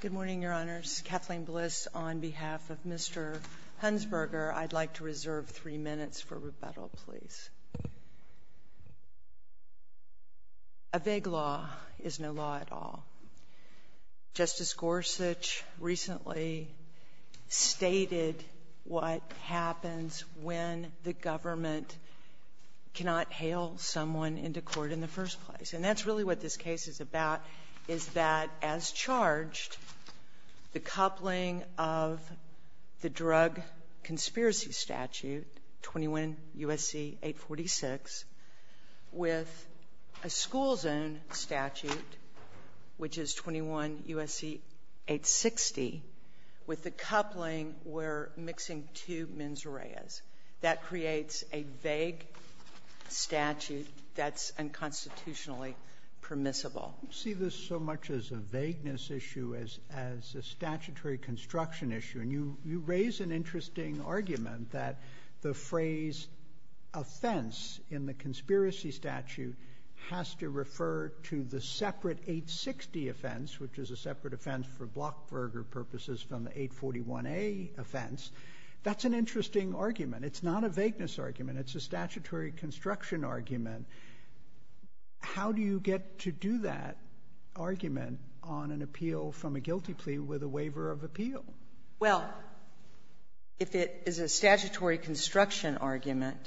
Good morning, Your Honors. Kathleen Bliss on behalf of Mr. Hunsberger. I'd like to reserve three minutes for rebuttal, please. A vague law is no law at all. Justice Gorsuch recently stated what happens when the government cannot hail someone into court in the first place, and that's really what this case is about, is that, as charged, the coupling of the Drug Conspiracy Statute, 21 U.S.C. 846, with a school zone statute, which is 21 U.S.C. 860, with the coupling where mixing two mens reas, that creates a vague statute that's unconstitutionally permissible. I see this so much as a vagueness issue, as a statutory construction issue, and you raise an interesting argument that the phrase offense in the Conspiracy Statute has to refer to the separate 860 offense, which is a separate offense for Blockberger purposes from the 841A offense. That's an interesting argument. It's not a vagueness argument. It's a statutory construction argument. How do you get to do that argument on an appeal from a guilty plea with a waiver of appeal? Well, if it is a statutory construction argument,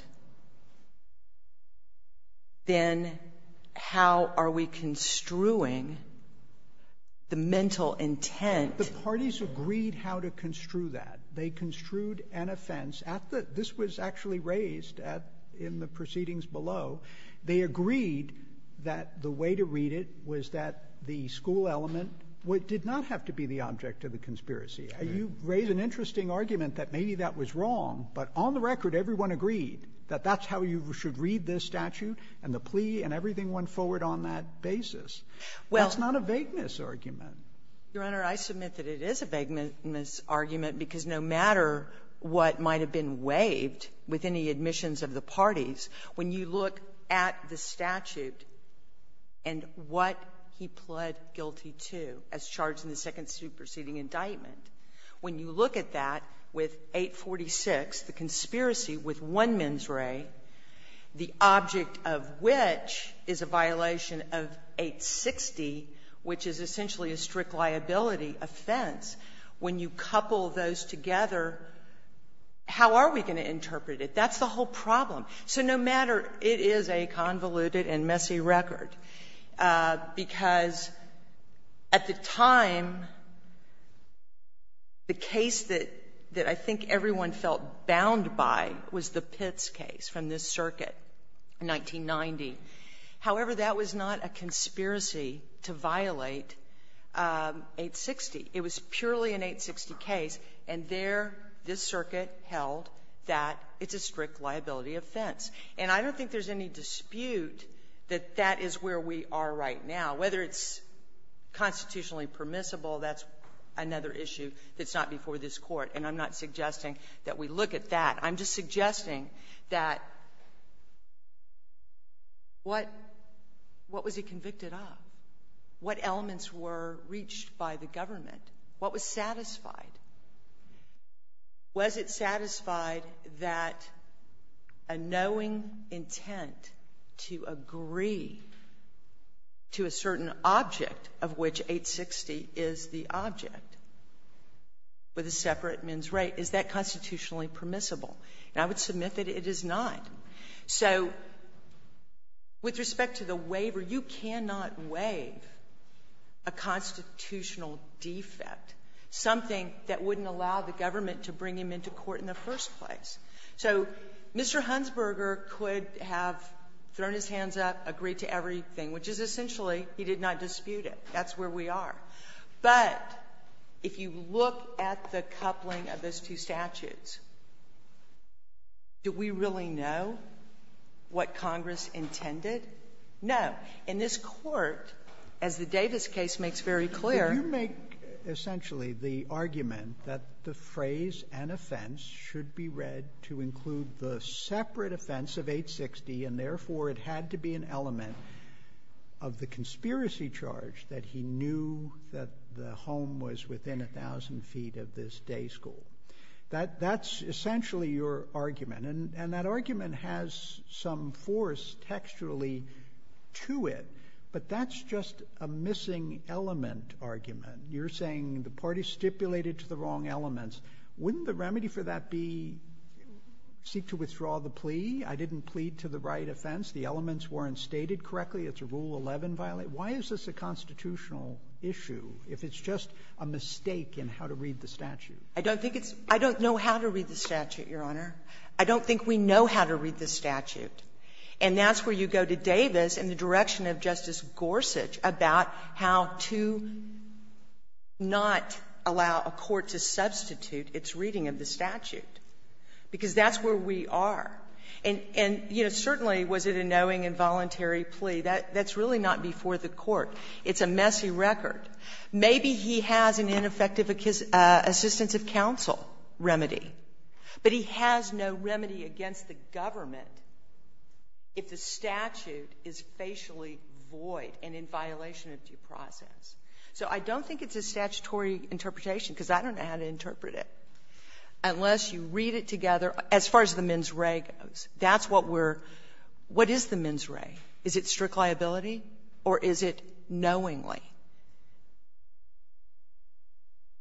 then how are we construing the mental intent? The parties agreed how to construe that. They construed an offense at the — this was actually raised at — in the proceedings below. They agreed that the way to read it was that the school element did not have to be the object of the conspiracy. You raise an interesting argument that maybe that was wrong, but on the record, everyone agreed that that's how you should read this statute, and the plea and everything went forward on that basis. That's not a vagueness argument. Your Honor, I submit that it is a vagueness argument, because no matter what might have been waived with any admissions of the parties, when you look at the statute and what he pled guilty to as charged in the second proceeding indictment, when you look at that with 846, the conspiracy with one mens re, the object of which is a violation of 860, which is essentially a strict liability offense, when you couple those together, how are we going to interpret it? That's the whole problem. So no matter — it is a convoluted and messy record, because at the time, the case that — that I think everyone felt bound by was the Pitts case from this circuit in 1990. However, that was not a conspiracy to violate 860. It was purely an 860 case, and there this circuit held that it's a strict liability offense. And I don't think there's any dispute that that is where we are right now. Whether it's constitutionally permissible, that's another issue that's not before this Court. And I'm not suggesting that we look at that. I'm just suggesting that what — what was he convicted of? What elements were reached by the government? What was satisfied? Was it satisfied that a knowing intent to agree to a certain object of which 860 is the object with a separate men's right? Is that constitutionally permissible? And I would submit that it is not. So with respect to the waiver, you cannot waive a constitutional defect, something that wouldn't allow the government to bring him into court in the first place. So Mr. Hunsberger could have thrown his hands up, agreed to everything, which is essentially he did not dispute it. That's where we are. But if you look at the coupling of those two statutes, do we really know what Congress intended? No. In this Court, as the Davis case makes very clear — Roberts, you make essentially the argument that the phrase, an offense, should be read to include the separate offense of 860, and therefore, it had to be an element of the conspiracy charge that he knew that the home was within 1,000 feet of this day school. That's essentially your argument. And that argument has some force textually to it, but that's just a missing element argument. You're saying the party stipulated to the wrong elements. Wouldn't the remedy for that be seek to withdraw the plea? I didn't plead to the right offense. The elements weren't stated correctly. It's a Rule 11 violation. Why is this a constitutional issue, if it's just a mistake in how to read the statute? I don't think it's — I don't know how to read the statute, Your Honor. I don't think we know how to read the statute. And that's where you go to Davis in the direction of Justice Gorsuch about how to not allow a court to substitute its reading of the statute, because that's where we are. And, you know, certainly was it a knowing and voluntary plea? That's really not before the court. It's a messy record. Maybe he has an ineffective assistance of counsel remedy, but he has no remedy against the government if the statute is facially void and in violation of due process. So I don't think it's a statutory interpretation, because I don't know how to interpret it, unless you read it together. As far as the mens re goes, that's what we're — what is the mens re? Is it strict liability, or is it knowingly?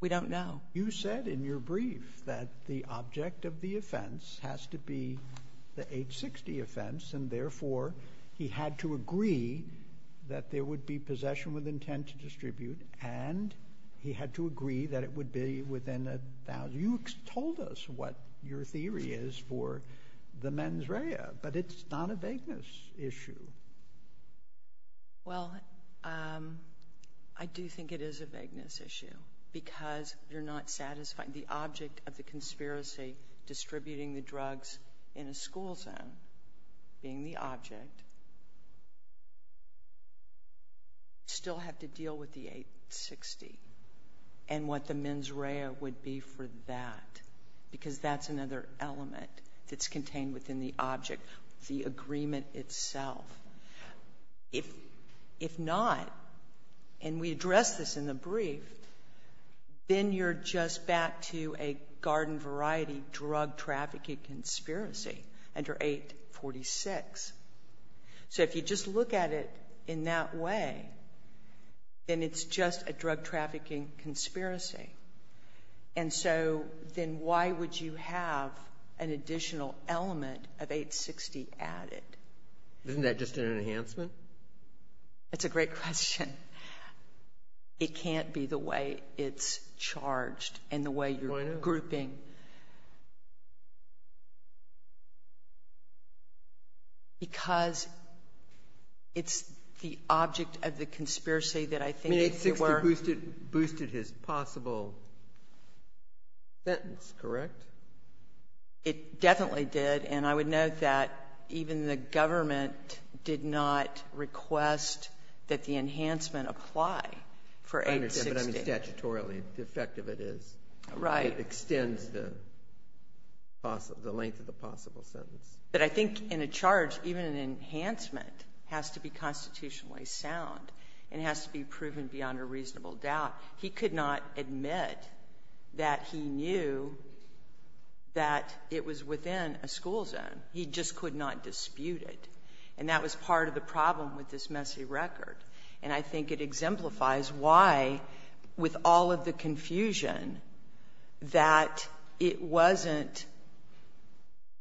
We don't know. You said in your brief that the object of the offense has to be the 860 offense, and therefore he had to agree that there would be possession with intent to distribute, and he had to agree that it would be within a — you told us what your theory is. What your theory is for the mens re, but it's not a vagueness issue. Well, I do think it is a vagueness issue, because you're not satisfying the object of the conspiracy, distributing the drugs in a school zone, being the object, still have to deal with the 860 and what the mens re would be for that, because that's another element that's contained within the object, the agreement itself. If not, and we address this in the brief, then you're just back to a garden-variety drug-trafficking conspiracy under 846. So if you just look at it in that way, then it's just a drug-trafficking conspiracy. And so then why would you have an additional element of 860 added? Isn't that just an enhancement? That's a great question. It can't be the way it's charged and the way you're grouping. Why not? Because it's the object of the conspiracy that I think if you were — It boosted his possible sentence, correct? It definitely did. And I would note that even the government did not request that the enhancement apply for 860. I understand. But I mean, statutorily, the effect of it is — Right. It extends the length of the possible sentence. But I think in a charge, even an enhancement has to be constitutionally sound and has to be proven beyond a reasonable doubt. He could not admit that he knew that it was within a school zone. He just could not dispute it. And that was part of the problem with this messy record. And I think it exemplifies why, with all of the confusion, that it wasn't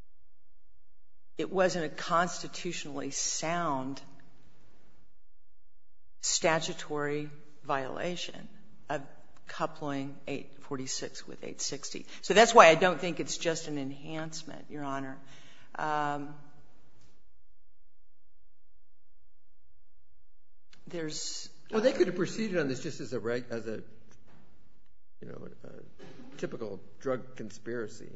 — it wasn't a constitutionally sound statutory violation of coupling 846 with 860. So that's why I don't think it's just an enhancement, Your Honor. There's — Well, they could have proceeded on this just as a — you know, a typical drug conspiracy.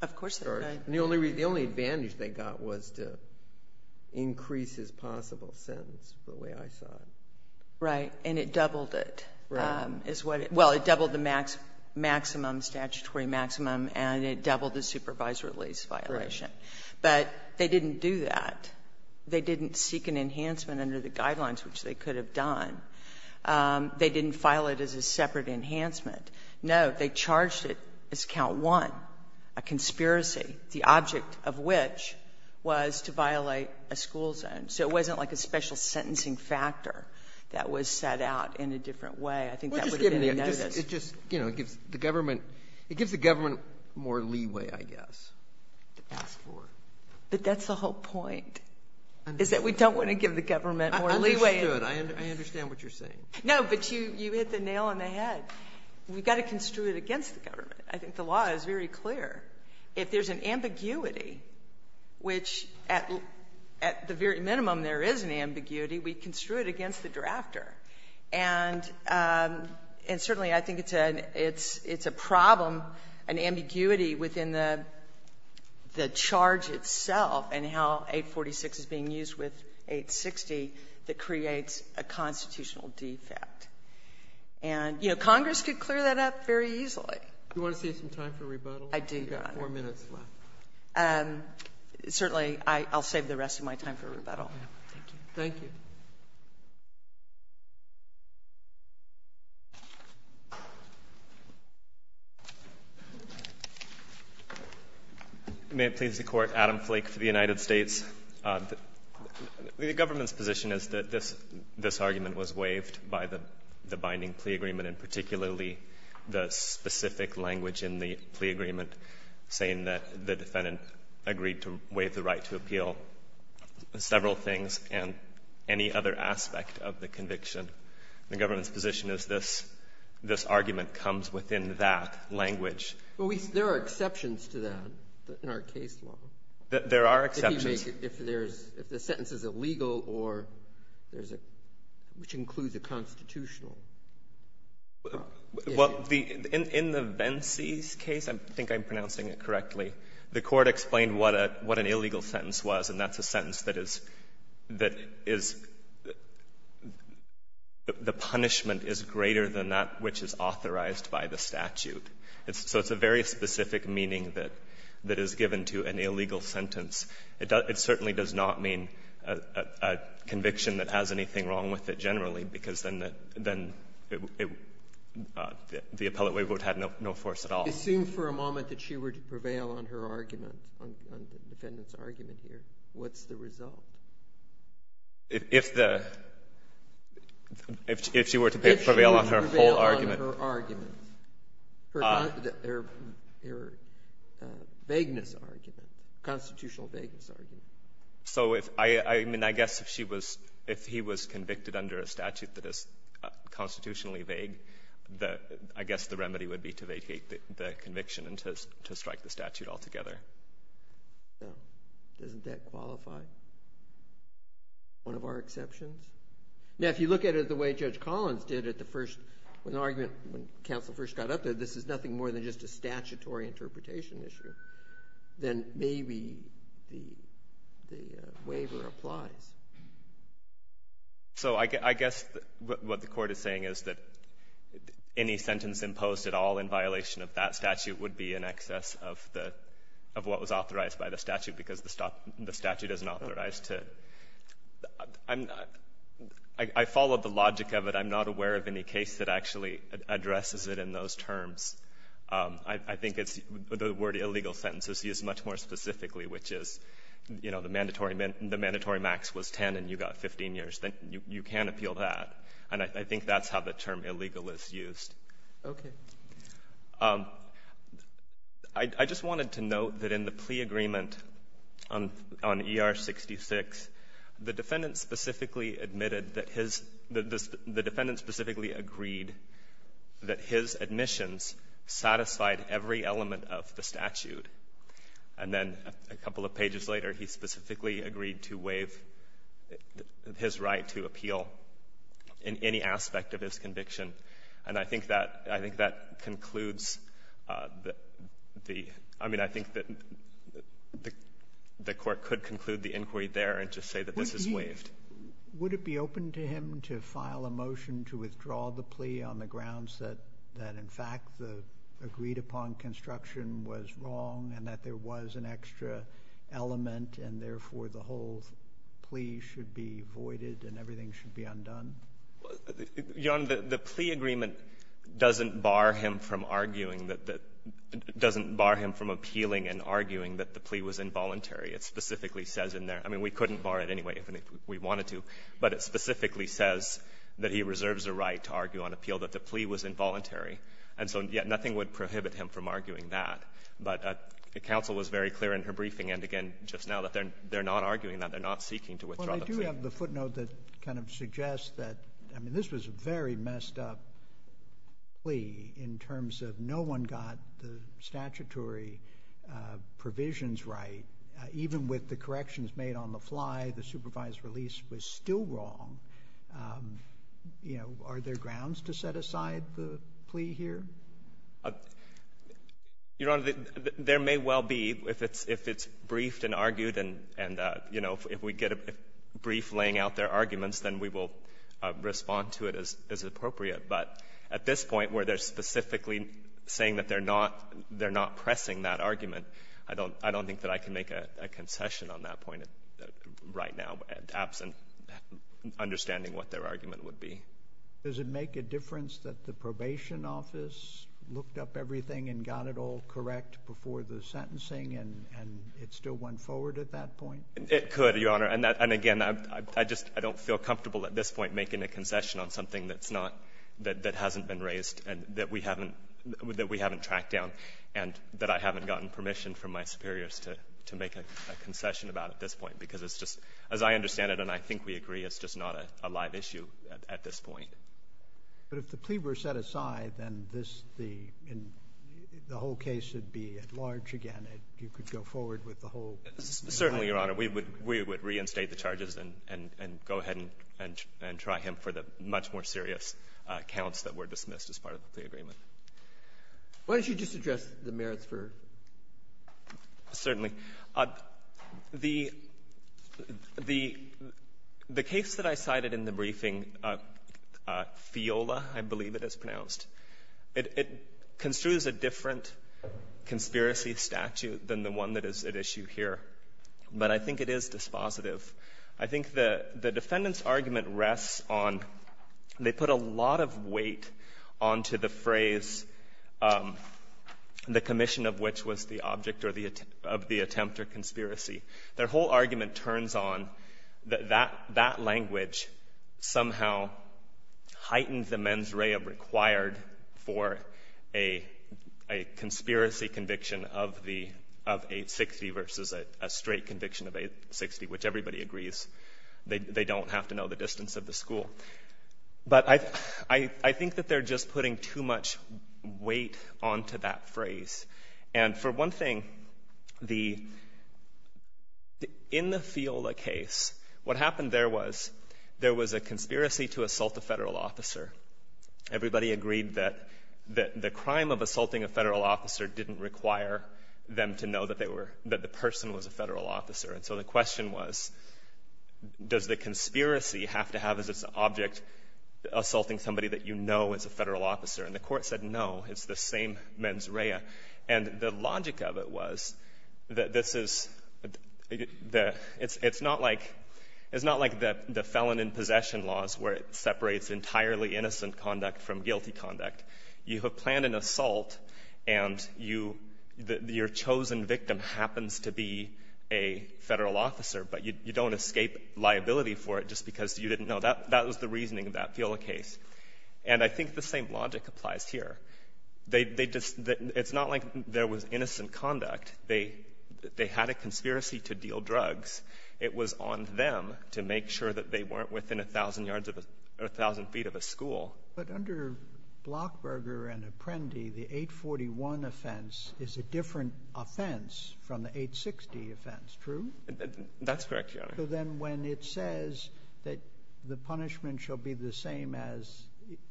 Of course they could. Right. And the only advantage they got was to increase his possible sentence, the way I saw it. Right. And it doubled it. Right. Is what it — well, it doubled the maximum, statutory maximum, and it doubled the supervisory lease violation. Right. But they didn't do that. They didn't seek an enhancement under the guidelines, which they could have done. They didn't file it as a separate enhancement. No. But they charged it as count one, a conspiracy, the object of which was to violate a school zone. So it wasn't like a special sentencing factor that was set out in a different way. I think that would have been a notice. Well, just give me a — just — you know, it gives the government — it gives the government more leeway, I guess, to ask for. But that's the whole point, is that we don't want to give the government more leeway — I understood. I understand what you're saying. No, but you hit the nail on the head. We've got to construe it against the government. I think the law is very clear. If there's an ambiguity, which at the very minimum there is an ambiguity, we construe it against the drafter. And certainly, I think it's a problem, an ambiguity within the charge itself and how 846 is being used with 860 that creates a constitutional defect. And, you know, Congress could clear that up very easily. Do you want to save some time for rebuttal? I do, Your Honor. You've got four minutes left. Certainly, I'll save the rest of my time for rebuttal. Thank you. Thank you. May it please the Court, Adam Flake for the United States. The government's position is that this argument was waived by the binding plea agreement and particularly the specific language in the plea agreement saying that the defendant agreed to waive the right to appeal several things and any other aspect of the conviction. The government's position is this argument comes within that language. There are exceptions to that in our case law. There are exceptions. What do you make if there's — if the sentence is illegal or there's a — which includes a constitutional? Well, the — in the Vence's case, I think I'm pronouncing it correctly, the Court explained what a — what an illegal sentence was, and that's a sentence that is — that is — the punishment is greater than that which is authorized by the statute. So it's a very specific meaning that is given to an illegal sentence. It certainly does not mean a conviction that has anything wrong with it generally because then the appellate way would have no force at all. Assume for a moment that she were to prevail on her argument, on the defendant's argument here, what's the result? If the — if she were to prevail on her whole argument. Her argument. Her vagueness argument, constitutional vagueness argument. So if — I mean, I guess if she was — if he was convicted under a statute that is constitutionally vague, the — I guess the remedy would be to vacate the conviction and to strike the statute altogether. No. Doesn't that qualify? One of our exceptions? Now, if you look at it the way Judge Collins did at the first — with the argument when counsel first got up there, this is nothing more than just a statutory interpretation issue, then maybe the — the waiver applies. So I guess what the Court is saying is that any sentence imposed at all in violation of that statute would be in excess of the — of what was authorized by the statute because the statute doesn't authorize to — I'm not — I followed the logic of it. I'm not aware of any case that actually addresses it in those terms. I think it's — the word illegal sentence is used much more specifically, which is, you know, the mandatory — the mandatory max was 10 and you got 15 years. Then you can appeal that. And I think that's how the term illegal is used. Okay. I just wanted to note that in the plea agreement on — on ER-66, there was a clause that the defendant specifically admitted that his — the defendant specifically agreed that his admissions satisfied every element of the statute. And then a couple of pages later, he specifically agreed to waive his right to appeal in any aspect of his conviction. And I think that — I think that concludes the — I mean, I think that the Court could conclude the inquiry there and just say that this is waived. Would he — would it be open to him to file a motion to withdraw the plea on the grounds that — that in fact the agreed-upon construction was wrong and that there was an extra element and therefore the whole plea should be voided and everything should be undone? Your Honor, the — the plea agreement doesn't bar him from arguing that — doesn't bar him from appealing and arguing that the plea was involuntary. It specifically says in there — I mean, we couldn't bar it anyway if we wanted to, but it specifically says that he reserves a right to argue on appeal that the plea was involuntary. And so, yet, nothing would prohibit him from arguing that. But counsel was very clear in her briefing, and again, just now, that they're — they're not arguing that. They're not seeking to withdraw the plea. Well, I do have the footnote that kind of suggests that — I mean, this was a very messed-up plea in terms of no one got the statutory provisions right. Even with the corrections made on the fly, the supervised release was still wrong. You know, are there grounds to set aside the plea here? Your Honor, there may well be if it's — if it's briefed and argued and — and, you know, if we get a brief laying out their arguments, then we will respond to it as appropriate. But at this point, where they're specifically saying that they're not — they're not pressing that argument, I don't — I don't think that I can make a concession on that point right now, absent understanding what their argument would be. Does it make a difference that the probation office looked up everything and got it all correct before the sentencing, and it still went forward at that point? It could, Your Honor. And again, I just — I don't feel comfortable at this point making a concession on something that's not — that hasn't been raised and that we haven't — that we haven't tracked down and that I haven't gotten permission from my superiors to make a concession about at this point, because it's just — as I understand it, and I think we agree, it's just not a live issue at this point. But if the plea were set aside, then this — the — the whole case would be at large again, and you could go forward with the whole — Certainly, Your Honor. We would — we would reinstate the charges and go ahead and try him for the much more serious counts that were dismissed as part of the agreement. Why don't you just address the merits for — Certainly. The — the case that I cited in the briefing, FIOLA, I believe it is pronounced, it construes a different conspiracy statute than the one that is at issue here. But I think it is dispositive. I think the — the defendant's argument rests on — they put a lot of weight onto the phrase, the commission of which was the object or the — of the attempt or conspiracy. Their whole argument turns on that that — that language somehow heightened the mens rea required for a — a conspiracy conviction of the — of 860 versus a straight conviction of 860, which everybody agrees. They — they don't have to know the distance of the school. But I — I think that they're just putting too much weight onto that phrase. And for one thing, the — in the FIOLA case, what happened there was, there was a conspiracy to assault a federal officer. Everybody agreed that — that the crime of assaulting a federal officer didn't require them to know that they were — that the person was a federal officer. And so the question was, does the conspiracy have to have as its object assaulting somebody that you know is a federal officer? And the Court said, no, it's the same mens rea. And the logic of it was that this is the — it's — it's not like — it's not like the — the felon in possession laws, where it separates entirely innocent conduct from guilty conduct. You have planned an assault, and you — your chosen victim happens to be a federal officer, but you don't escape liability for it just because you didn't know. That — that was the reasoning of that FIOLA case. And I think the same logic applies here. They — they just — it's not like there was innocent conduct. They — they had a conspiracy to deal drugs. It was on them to make sure that they weren't within 1,000 yards of a — or 1,000 feet of a school. But under Blockberger and Apprendi, the 841 offense is a different offense from the 860 offense, true? That's correct, Your Honor. So then when it says that the punishment shall be the same as,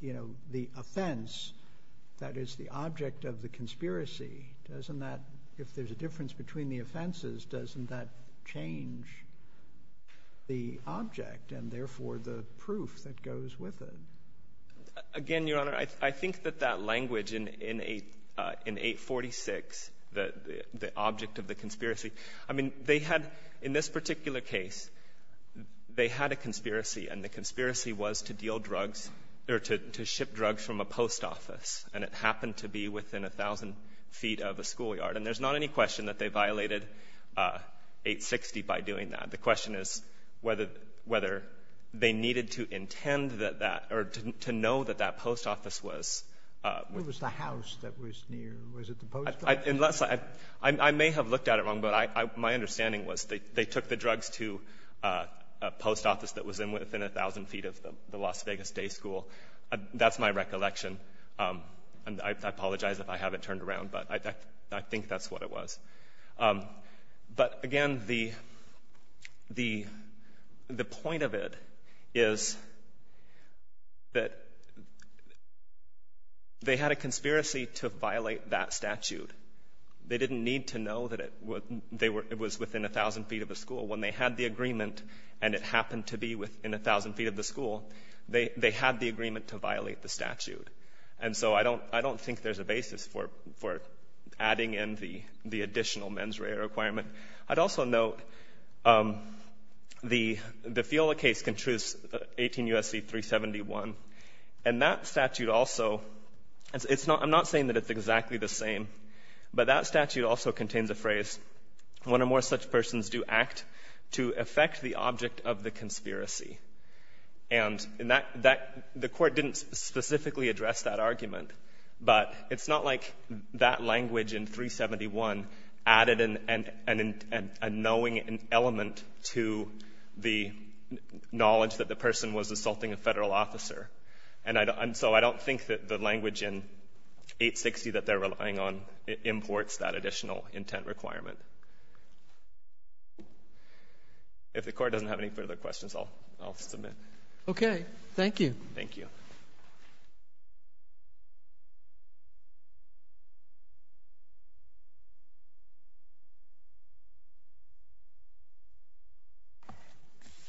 you know, the offense that is the object of the conspiracy, doesn't that — if there's a difference between the offenses, doesn't that change the object and therefore the proof that goes with it? Again, Your Honor, I — I think that that language in — in 8 — in 846, the — the object of the conspiracy, I mean, they had — in this particular case, they had a conspiracy, and the conspiracy was to deal drugs or to — to ship drugs from a post office, and it happened to be within 1,000 feet of a schoolyard. And there's not any question that they violated 860 by doing that. The question is whether — whether they needed to intend that that — or to know that that post office was — What was the house that was near? Was it the post office? Unless I — I may have looked at it wrong, but I — my understanding was they took the drugs to a post office that was within 1,000 feet of the Las Vegas Day School. That's my recollection. And I apologize if I haven't turned around, but I think that's what it was. But, again, the — the — the point of it is that they had a conspiracy to violate that statute. They didn't need to know that it was within 1,000 feet of the school. When they had the agreement, and it happened to be within 1,000 feet of the school, they had the agreement to violate the statute. And so I don't — I don't think there's a basis for — for adding in the — the additional mens rea requirement. I'd also note the — the FIOLA case contradicts 18 U.S.C. 371, and that statute also — it's not — I'm not saying that it's exactly the same, but that statute also contains a phrase, one or more such persons do act to affect the object of the conspiracy. And in that — that — the Court didn't specifically address that argument, but it's not like that language in 371 added an — an — a knowing element to the knowledge that the person was assaulting a Federal officer. And I don't — and so I don't think that the language in 860 that they're relying on imports that additional intent requirement. If the Court doesn't have any further questions, I'll — I'll submit. Okay. Thank you. Thank you.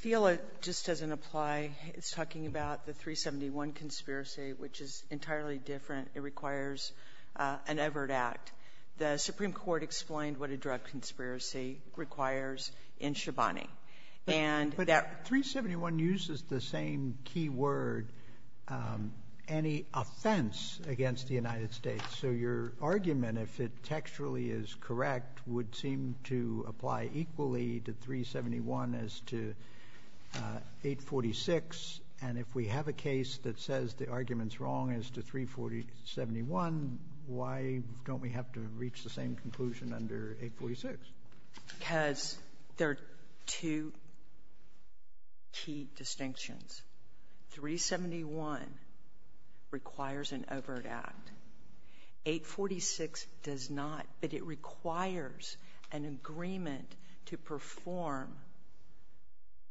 FIOLA just doesn't apply. It's talking about the 371 conspiracy, which is entirely different. It requires an Everett Act. The Supreme Court explained what a drug conspiracy requires in Shabani. And that — But 371 uses the same key word, any offense against the United States. So your argument, if it textually is correct, would seem to apply equally to 371 as to 846. And if we have a case that says the argument's wrong as to 371, why don't we have to reach the same conclusion under 846? Because there are two key distinctions. 371 requires an Everett Act. 846 does not. But it requires an agreement to perform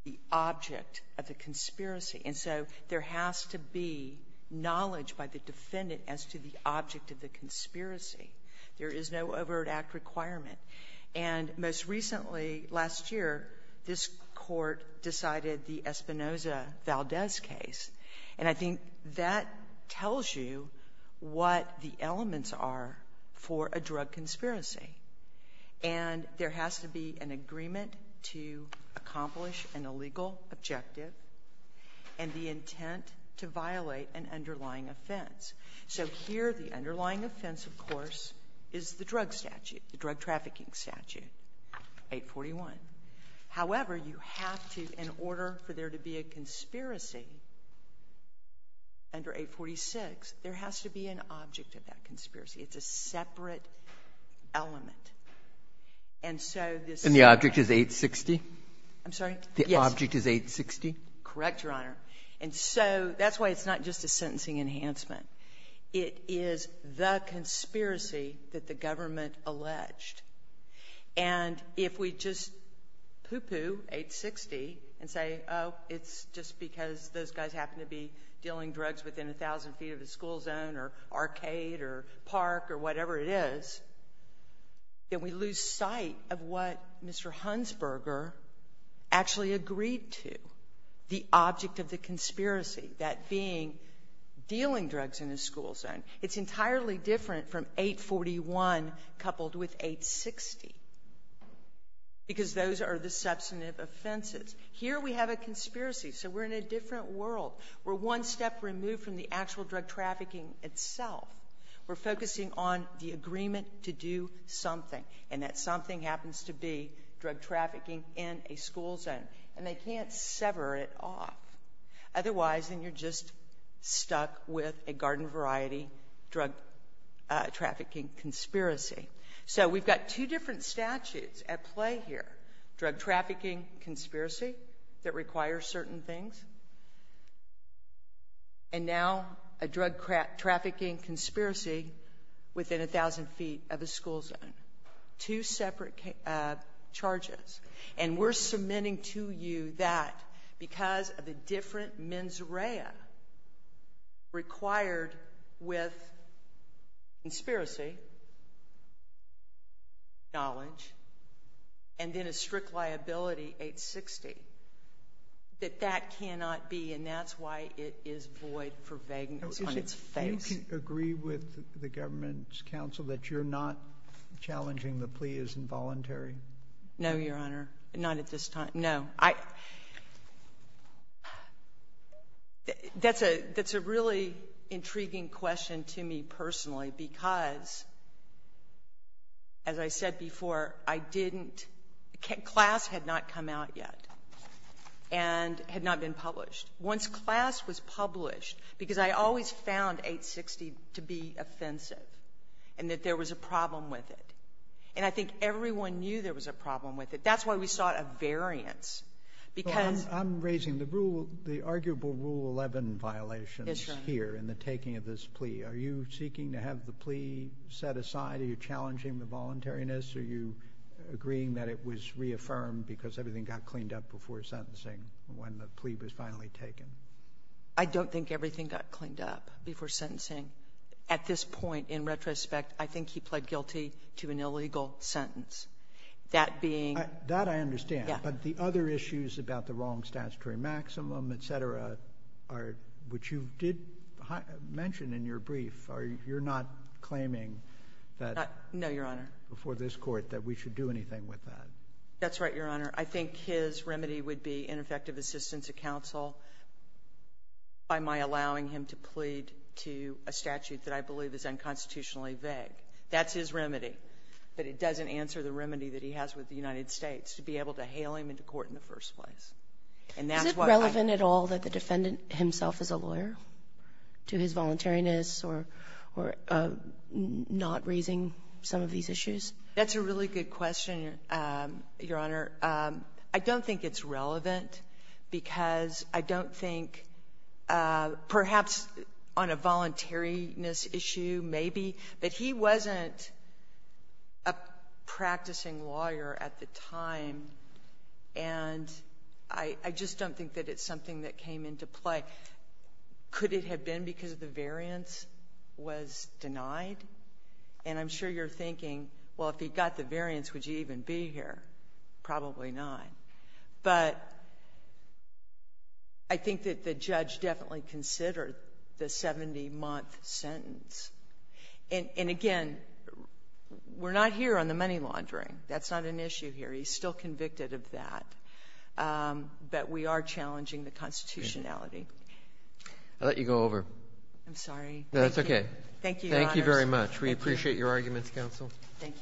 the object of the conspiracy. And so there has to be knowledge by the defendant as to the object of the conspiracy. There is no Everett Act requirement. And most recently, last year, this Court decided the Espinoza-Valdez case. And I think that tells you what the elements are for a drug conspiracy. And there has to be an agreement to accomplish an illegal objective and the intent to violate an underlying offense. So here, the underlying offense, of course, is the drug statute, the drug trafficking statute, 841. However, you have to, in order for there to be a conspiracy under 846, there has to be an object of that conspiracy. It's a separate element. And so this — And the object is 860? I'm sorry? Yes. The object is 860? Correct, Your Honor. And so that's why it's not just a sentencing enhancement. It is the conspiracy that the government alleged. And if we just poo-poo 860 and say, oh, it's just because those guys happen to be dealing drugs within a thousand feet of the school zone or arcade or park or whatever it is, then we lose sight of what Mr. Hunsberger actually agreed to, the object of the conspiracy, that being dealing drugs in a school zone. It's entirely different from 841 coupled with 860, because those are the substantive offenses. Here we have a conspiracy, so we're in a different world. We're one step removed from the actual drug trafficking itself. We're focusing on the agreement to do something, and that something happens to be drug trafficking in a school zone. And they can't sever it off. Otherwise, then you're just stuck with a garden variety drug trafficking conspiracy. So we've got two different statutes at play here. Drug trafficking conspiracy that requires certain things, and now a drug trafficking conspiracy within a thousand feet of a school zone. Two separate charges. And we're submitting to you that because of the different mens rea required with conspiracy, knowledge, and then a strict liability, 860, that that cannot be, and that's why it is void for vagueness on its face. Do you agree with the government's counsel that you're not challenging the plea as involuntary? No, Your Honor. Not at this time. No. That's a really intriguing question to me personally, because, as I said before, I didn't — class had not come out yet and had not been published. Once class was published, because I always found 860 to be offensive and that there was a problem with it. And I think everyone knew there was a problem with it. That's why we sought a variance, because — Well, I'm raising the rule — the arguable Rule 11 violations here in the taking of this plea. Are you seeking to have the plea set aside? Are you challenging the voluntariness? Are you agreeing that it was reaffirmed because everything got cleaned up before sentencing, when the plea was finally taken? I don't think everything got cleaned up before sentencing. At this point, in retrospect, I think he pled guilty to an illegal sentence. That being — That I understand. Yeah. But the other issues about the wrong statutory maximum, et cetera, are — which you did mention in your brief, are you not claiming that — No, Your Honor. — before this Court that we should do anything with that? That's right, Your Honor. I think his remedy would be ineffective assistance of counsel by my allowing him to plead to a statute that I believe is unconstitutionally vague. That's his remedy. But it doesn't answer the remedy that he has with the United States, to be able to hail him into court in the first place. And that's why I — Is it relevant at all that the defendant himself is a lawyer, to his voluntariness or — or not raising some of these issues? That's a really good question, Your Honor. I don't think it's relevant because I don't think — perhaps on a voluntariness issue, maybe, but he wasn't a practicing lawyer at the time, and I — I just don't think that it's something that came into play. Could it have been because the variance was denied? And I'm sure you're thinking, well, if he got the variance, would you even be here? Probably not. But I think that the judge definitely considered the 70-month sentence. And again, we're not here on the money laundering. That's not an issue here. He's still convicted of that. But we are challenging the constitutionality. I'll let you go over. I'm sorry. No, that's okay. Thank you, Your Honors. Thank you very much. We appreciate your arguments, counsel. Thank you. Thank you.